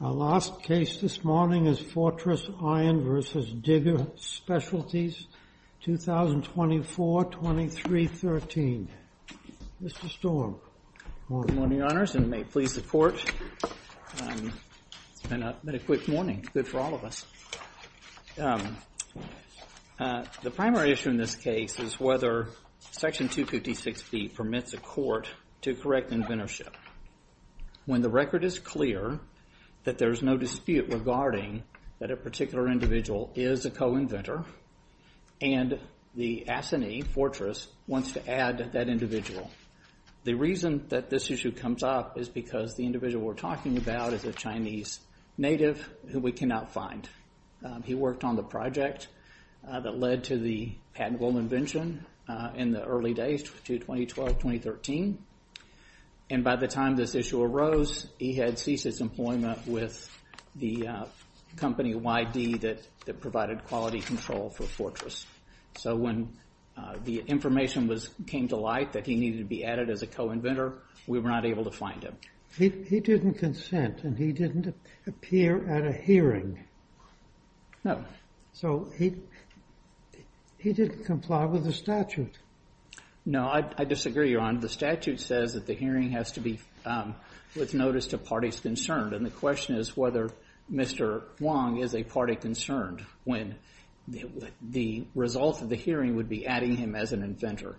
Our last case this morning is Fortress Iron v. Digger Specialties, 2024-2313. Mr. Storm. Good morning, Your Honors, and may it please the Court. It's been a quick morning, good for all of us. The primary issue in this case is whether Section 256B permits a court to correct inventorship. When the record is clear that there is no dispute regarding that a particular individual is a co-inventor and the assignee, Fortress, wants to add that individual, the reason that this issue comes up is because the individual we're talking about is a Chinese native who we cannot find. He worked on the project that led to the patentable invention in the early days to 2012-2013, and by the time this issue arose, he had ceased his employment with the company YD that provided quality control for Fortress. So when the information came to light that he needed to be added as a co-inventor, we were not able to find him. He didn't consent, and he didn't appear at a hearing. No. So he didn't comply with the statute. No, I disagree, Your Honor. The statute says that the hearing has to be with notice to parties concerned, and the question is whether Mr. Huang is a party concerned when the result of the hearing would be adding him as an inventor.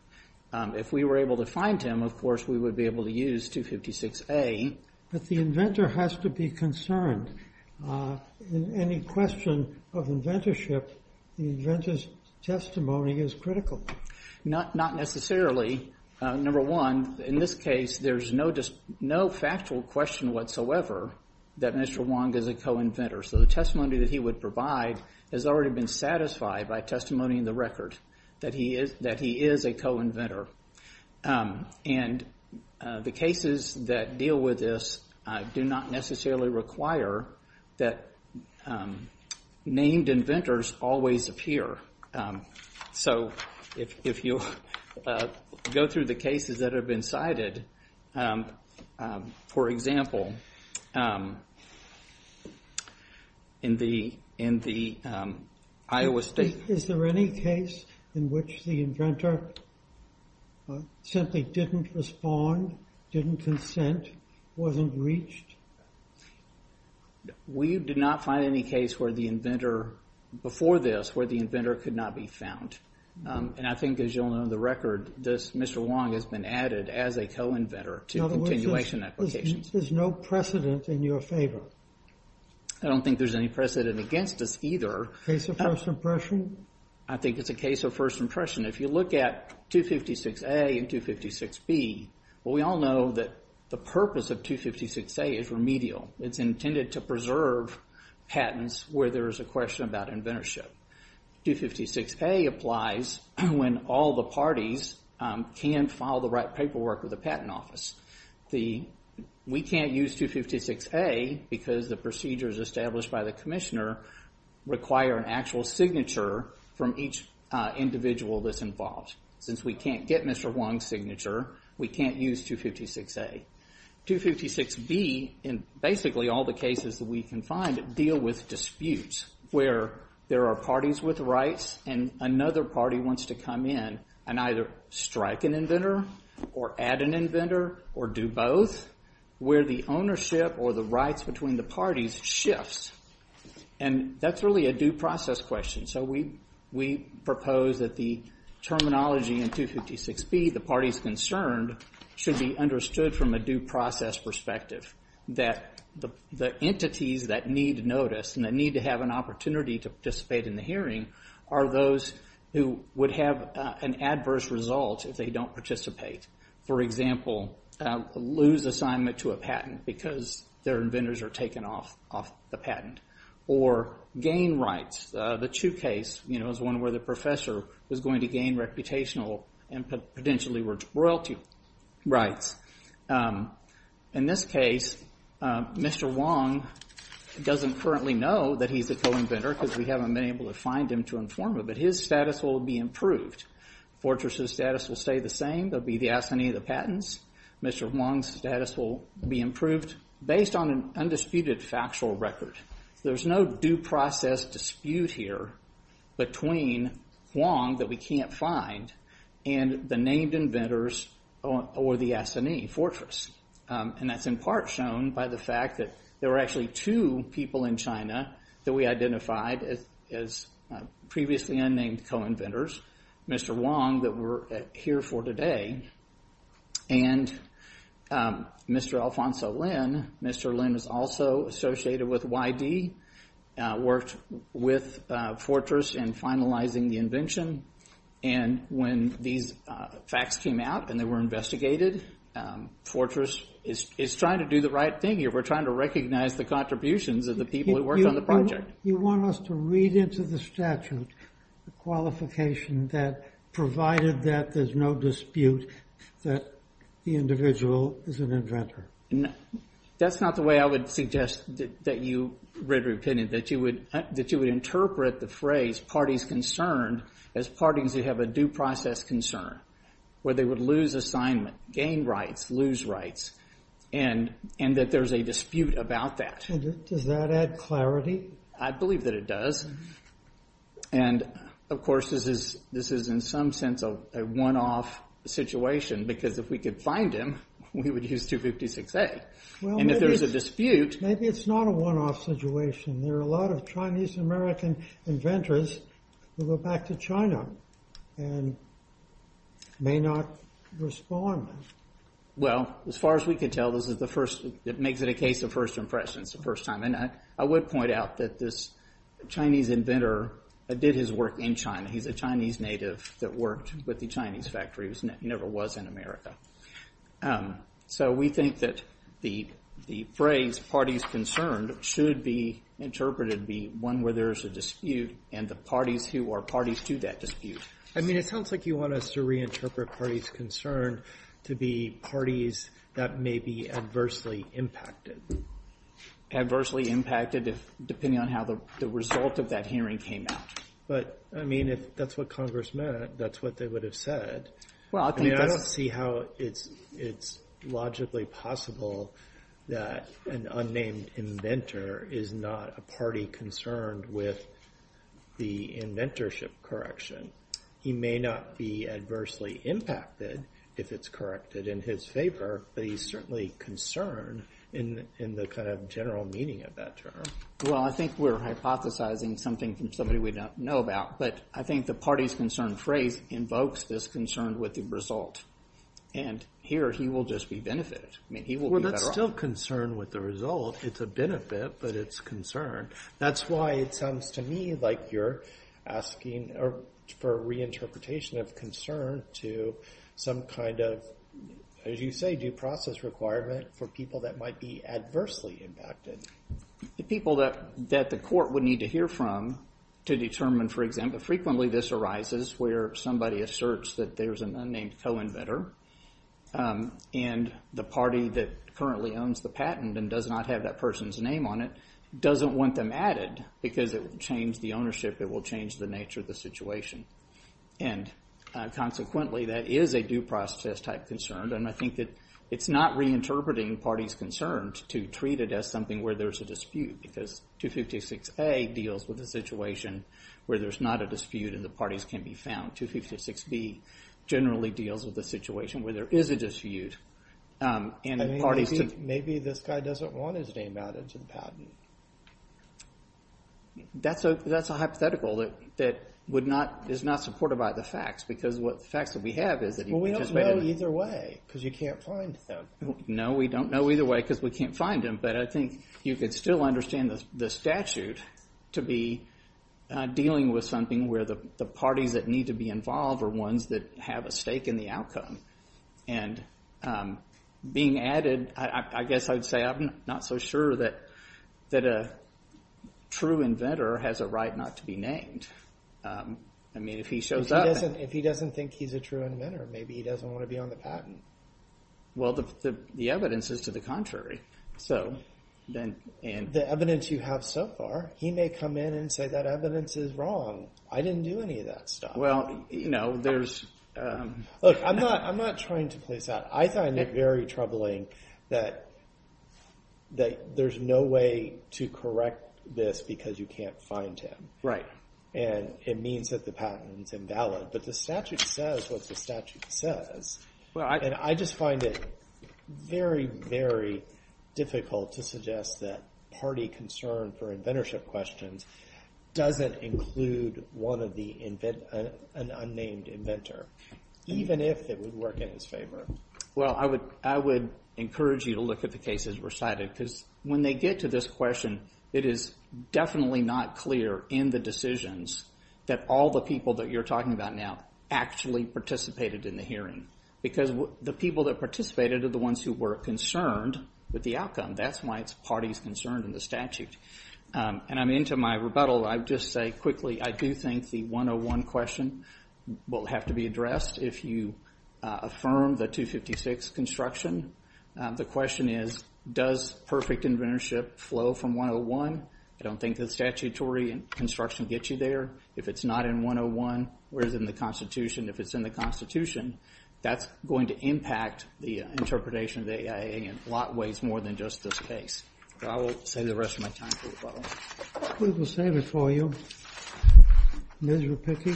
If we were able to find him, of course, we would be able to use 256A. But the inventor has to be concerned. In any question of inventorship, the inventor's testimony is critical. Not necessarily. Number one, in this case, there's no factual question whatsoever that Mr. Huang is a co-inventor. So the testimony that he would provide has already been satisfied by testimony in the record that he is a co-inventor. And the cases that deal with this do not necessarily require that named inventors always appear. So if you go through the cases that have been cited, for example, in the Iowa State... Is there any case in which the inventor simply didn't respond, didn't consent, wasn't reached? We did not find any case where the inventor, before this, where the inventor could not be found. And I think, as you'll know in the record, this Mr. Huang has been added as a co-inventor to continuation applications. In other words, there's no precedent in your favor? I don't think there's any precedent against us either. Case of first impression? I think it's a case of first impression. If you look at 256A and 256B, we all know that the purpose of 256A is remedial. It's intended to preserve patents where there is a question about inventorship. 256A applies when all the parties can file the right paperwork with the patent office. We can't use 256A because the procedures established by the commissioner require an actual signature from each individual that's involved. Since we can't get Mr. Huang's signature, we can't use 256A. 256B, in basically all the cases that we can find, deal with disputes where there are parties with rights and another party wants to come in and either strike an inventor or add an inventor or do both where the ownership or the rights between the parties shifts. And that's really a due process question. So we propose that the terminology in 256B, the parties concerned, should be understood from a due process perspective. That the entities that need notice and that need to have an opportunity to participate in the hearing are those who would have an adverse result if they don't participate. For example, lose assignment to a patent because their inventors are taken off the patent. Or gain rights. The Chu case, you know, is one where the professor was going to gain reputational and potentially royalty rights. In this case, Mr. Huang doesn't currently know that he's a co-inventor because we haven't been able to find him to inform him, but his status will be improved. Fortress's status will stay the same. They'll be the assignee of the patents. Mr. Huang's status will be improved based on an undisputed factual record. There's no due process dispute here between Huang that we can't find and the named inventors or the assignee, Fortress. And that's in part shown by the fact that there are actually two people in China that we identified as previously unnamed co-inventors. Mr. Huang that we're here for today. And Mr. Alfonso Lin, Mr. Lin is also associated with YD, worked with Fortress in finalizing the invention. And when these facts came out and they were investigated, Fortress is trying to do the right thing here. We're trying to recognize the contributions of the people who worked on the project. You want us to read into the statute the qualification that, provided that there's no dispute, that the individual is an inventor? That's not the way I would suggest that you read our opinion, that you would interpret the phrase parties concerned as parties who have a due process concern, where they would lose assignment, gain rights, lose rights, and that there's a dispute about that. And does that add clarity? I believe that it does. And of course, this is in some sense a one-off situation because if we could find him, we would use 256A. And if there's a dispute... Maybe it's not a one-off situation. There are a lot of Chinese-American inventors who go back to China and may not respond. Well, as far as we could tell, this is the first, it makes it a case of first impressions the first time. And I would point out that this Chinese inventor did his work in China. He's a Chinese native that worked with the Chinese factories and never was in America. So we think that the phrase parties concerned should be interpreted to be one where there's a dispute and the parties who are parties to that dispute. I mean, it sounds like you want us to reinterpret parties concerned to be parties that may be adversely impacted. Adversely impacted depending on how the result of that hearing came out. But, I mean, if that's what Congress meant, that's what they would have said. I don't see how it's logically possible that an unnamed inventor is not a party concerned with the inventorship correction. He may not be adversely impacted if it's corrected in his favor, but he's certainly concerned in the kind of general meaning of that term. Well, I think we're hypothesizing something from somebody we don't know about. But I think the parties concerned phrase invokes this concern with the result. And here he will just be benefited. I mean, he will be better off. Well, that's still concern with the result. It's a benefit, but it's concern. That's why it sounds to me like you're asking for reinterpretation of concern to some kind of, as you say, due process requirement for people that might be adversely impacted. The people that the court would need to hear from to determine, for example, frequently this arises where somebody asserts that there's an unnamed co-inventor. And the party that currently owns the patent and does not have that person's name on it doesn't want them added because it will change the ownership, it will change the nature of the situation. And consequently, that is a due process-type concern. And I think it's not reinterpreting parties concerned to treat it as something where there's a dispute because 256A deals with a situation where there's not a dispute and the parties can be found. 256B generally deals with a situation where there is a dispute. Maybe this guy doesn't want his name added to the patent. That's a hypothetical that is not supported by the facts because the facts that we have is... Well, we don't know either way because you can't find him. No, we don't know either way because we can't find him. But I think you could still understand the statute to be dealing with something where the parties that need to be involved are ones that have a stake in the outcome. And being added, I guess I'd say I'm not so sure that a true inventor has a right not to be named. I mean, if he shows up... If he doesn't think he's a true inventor, maybe he doesn't want to be on the patent. Well, the evidence is to the contrary. The evidence you have so far, he may come in and say that evidence is wrong. I didn't do any of that stuff. Well, you know, there's... Look, I'm not trying to place that. I find it very troubling that there's no way to correct this because you can't find him. Right. And it means that the patent is invalid. But the statute says what the statute says. And I just find it very, very difficult to suggest that party concern for inventorship questions doesn't include an unnamed inventor, even if it would work in his favor. Well, I would encourage you to look at the cases recited because when they get to this question, it is definitely not clear in the decisions that all the people that you're talking about now actually participated in the hearing because the people that participated are the ones who were concerned with the outcome. That's why it's parties concerned in the statute. And I'm into my rebuttal. I would just say quickly, I do think the 101 question will have to be addressed if you affirm the 256 construction. The question is, does perfect inventorship flow from 101? I don't think the statutory construction gets you there. If it's not in 101, where is it in the Constitution? If it's in the Constitution, that's going to impact the interpretation of the AIA in a lot ways more than just this case. I will save the rest of my time for rebuttal. We will save it for you. Miserable picky.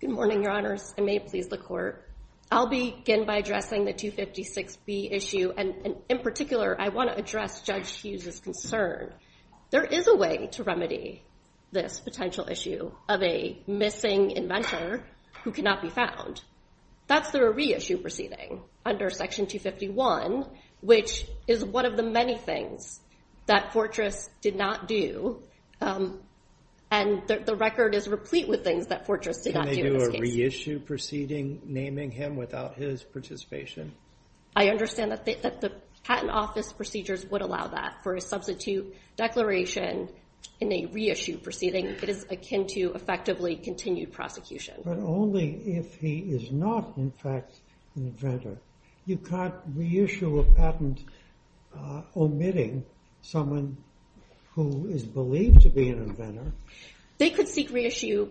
Good morning, Your Honors, and may it please the Court. I'll begin by addressing the 256B issue, and in particular, I want to address Judge Hughes's concern. There is a way to remedy this potential issue of a missing inventor who cannot be found. That's through a reissue proceeding under Section 251, which is one of the many things that Fortress did not do, and the record is replete with things that Fortress did not do in this case. Can they do a reissue proceeding naming him without his participation? I understand that the patent office procedures would allow that for a substitute declaration in a reissue proceeding. It is akin to effectively continued prosecution. But only if he is not, in fact, an inventor. You can't reissue a patent omitting someone who is believed to be an inventor. They could seek reissue.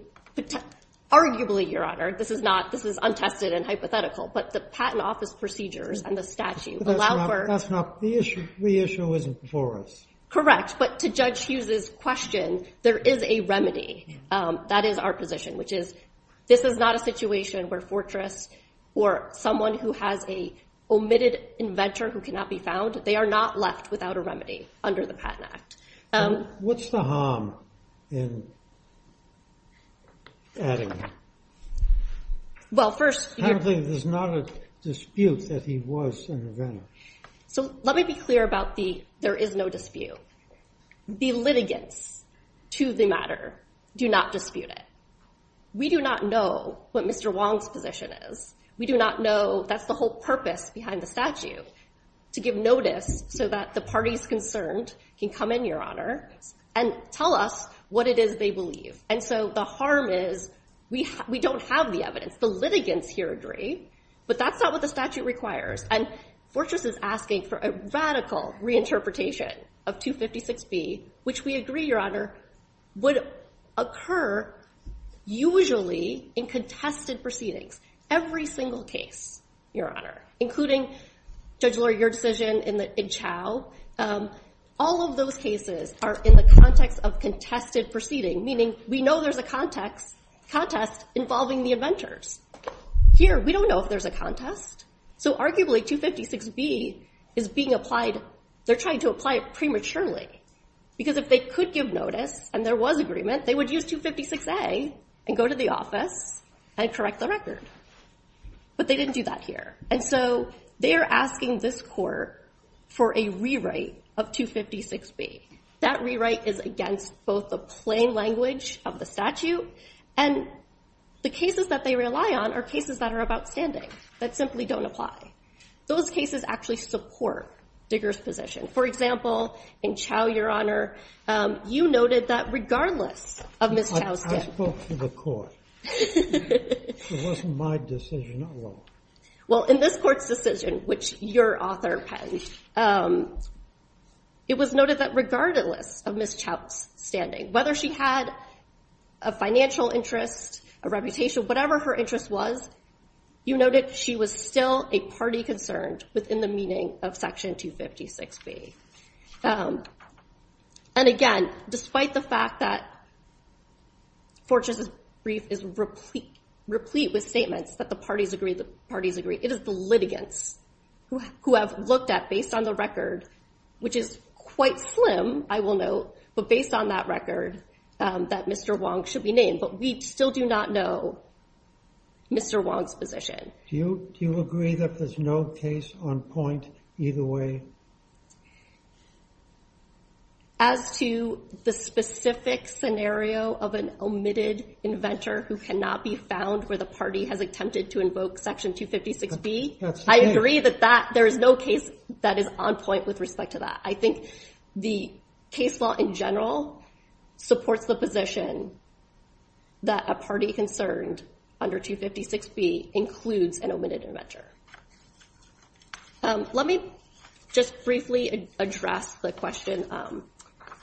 Arguably, Your Honor, this is untested and hypothetical, but the patent office procedures and the statute allow for- That's not the issue. Reissue isn't for us. Correct, but to Judge Hughes's question, there is a remedy. That is our position, which is this is not a situation where Fortress or someone who has a omitted inventor who cannot be found, they are not left without a remedy under the Patent Act. What's the harm in adding that? Well, first- Apparently, there's not a dispute that he was an inventor. So let me be clear about the there is no dispute. The litigants to the matter do not dispute it. We do not know what Mr. Wong's position is. We do not know that's the whole purpose behind the statute, to give notice so that the parties concerned can come in, Your Honor, and tell us what it is they believe. And so the harm is we don't have the evidence. The litigants here agree, but that's not what the statute requires. And Fortress is asking for a radical reinterpretation of 256B, which we agree, Your Honor, would occur usually in contested proceedings. Every single case, Your Honor, including Judge Lurie, your decision in Chau, all of those cases are in the context of contested proceeding, meaning we know there's a contest involving the inventors. Here, we don't know if there's a contest. So arguably, 256B is being applied. They're trying to apply it prematurely. Because if they could give notice and there was agreement, they would use 256A and go to the office and correct the record. But they didn't do that here. And so they are asking this court for a rewrite of 256B. That rewrite is against both the plain language of the statute and the cases that they rely on are cases that are outstanding, that simply don't apply. Those cases actually support Digger's position. For example, in Chau, Your Honor, you noted that regardless of Ms. Chau's standing. I spoke to the court. It wasn't my decision at all. Well, in this court's decision, which your author penned, it was noted that regardless of Ms. Chau's standing, whether she had a financial interest, a reputation, whatever her interest was, you noted she was still a party concerned within the meaning of Section 256B. And again, despite the fact that Fortress's brief is replete with statements that the parties agree, the parties agree, it is the litigants who have looked at, based on the record, which is quite slim, I will note, but based on that record, that Mr. Wong should be named. But we still do not know Mr. Wong's position. Do you agree that there's no case on point either way? As to the specific scenario of an omitted inventor who cannot be found where the party has attempted to invoke Section 256B, I agree that there is no case that is on point with respect to that. I think the case law, in general, supports the position that a party concerned under 256B includes an omitted inventor. Let me just briefly address the question on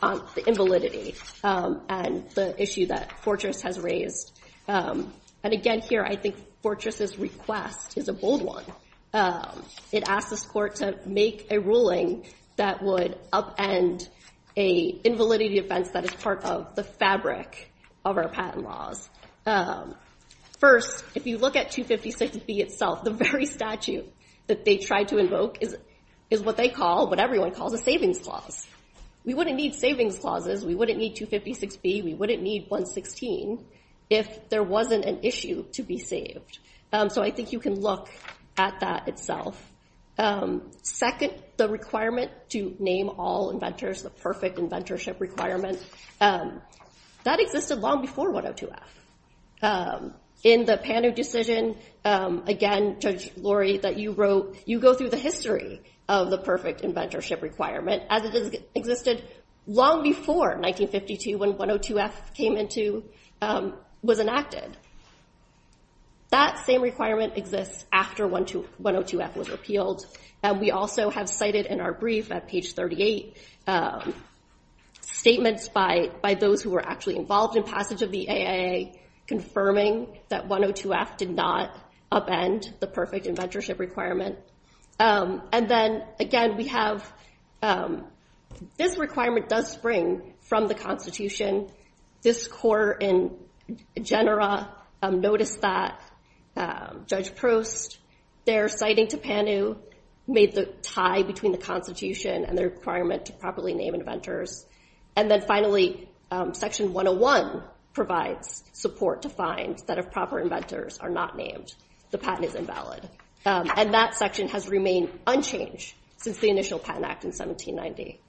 the invalidity and the issue that Fortress has raised. And again, here, I think Fortress's request is a bold one. It asked this court to make a ruling that would upend an invalidity defense that is part of the fabric of our patent laws. First, if you look at 256B itself, the very statute that they tried to invoke is what they call, what everyone calls, a savings clause. We wouldn't need savings clauses. We wouldn't need 256B. We wouldn't need 116 if there wasn't an issue to be saved. So I think you can look at that itself. Second, the requirement to name all inventors, the perfect inventorship requirement, that existed long before 102F. In the Pano decision, again, Judge Laurie, that you wrote, you go through the history of the perfect inventorship requirement as it existed long before 1952 when 102F was enacted. That same requirement exists after 102F was appealed. And we also have cited in our brief at page 38 statements by those who were actually involved in passage of the AIA confirming that 102F did not upend the perfect inventorship requirement. And then, again, we have this requirement does spring from the Constitution. In this section, this court in general noticed that Judge Prost, their citing to Pano, made the tie between the Constitution and the requirement to properly name inventors. And then finally, section 101 provides support to find that if proper inventors are not named, the patent is invalid. And that section has remained unchanged since the initial Patent Act in 1790.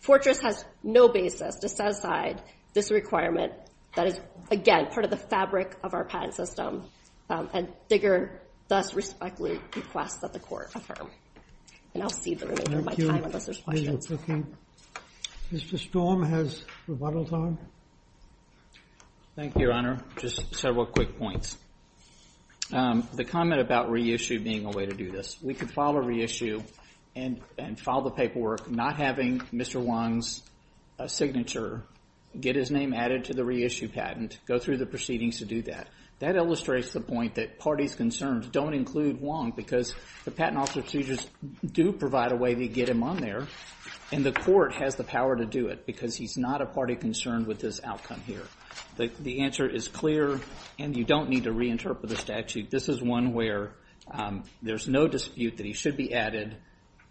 Fortress has no basis to set aside this requirement that is, again, part of the fabric of our patent system. And Digger thus respectfully requests that the court affirm. And I'll cede the remainder of my time unless there's questions. Mr. Storm has rebuttal time. Thank you, Your Honor. Just several quick points. The comment about reissue being a way to do this. We could file a reissue and file the paperwork not having Mr. Wong's signature, get his name added to the reissue patent, go through the proceedings to do that. That illustrates the point that parties concerned don't include Wong. Because the patent officers do provide a way to get him on there. And the court has the power to do it because he's not a party concerned with this outcome here. The answer is clear. And you don't need to reinterpret the statute. This is one where there's no dispute that he should be added.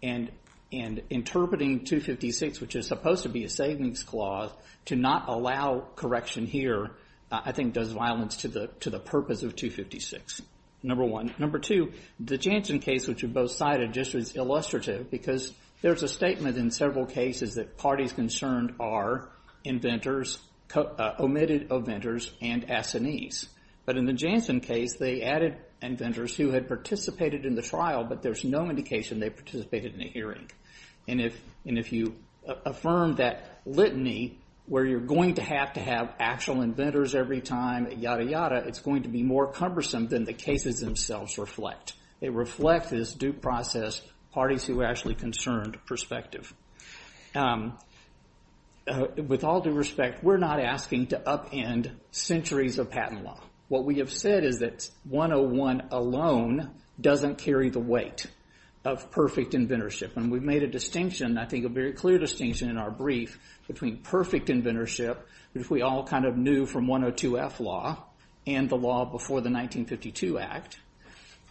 And interpreting 256, which is supposed to be a savings clause, to not allow correction here, I think, does violence to the purpose of 256, number one. Number two, the Jansen case, which you both cited, just was illustrative because there's a statement in several cases that parties concerned are omitted inventors and assinees. But in the Jansen case, they added inventors who had participated in the trial, but there's no indication they participated in a hearing. And if you affirm that litany, where you're going to have to have actual inventors every time, yada, yada, it's going to be more cumbersome than the cases themselves reflect. It reflects this due process, parties who are actually concerned perspective. With all due respect, we're not asking to upend centuries of patent law. What we have said is that 101 alone doesn't carry the weight of perfect inventorship. And we've made a distinction, I think a very clear distinction in our brief, between perfect inventorship, which we all kind of knew from 102-F law, and the law before the 1952 Act,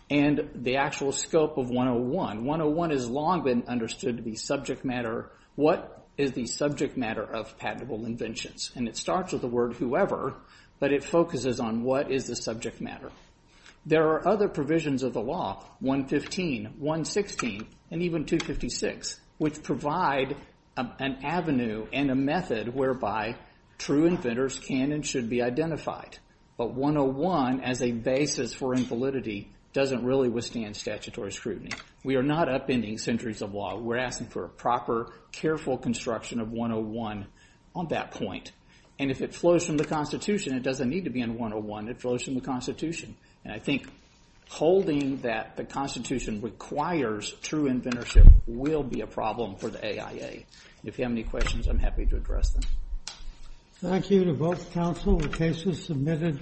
and the actual scope of 101. 101 has long been understood to be subject matter. What is the subject matter of patentable inventions? And it starts with the word whoever, but it focuses on what is the subject matter. There are other provisions of the law, 115, 116, and even 256, which provide an avenue and a method whereby true inventors can and should be identified. But 101, as a basis for invalidity, doesn't really withstand statutory scrutiny. We are not upending centuries of law. We're asking for a proper, careful construction of 101 on that point. And if it flows from the Constitution, it doesn't need to be in 101, it flows from the Constitution. And I think holding that the Constitution requires true inventorship will be a problem for the AIA. If you have any questions, I'm happy to address them. Thank you to both counsel. The case is submitted.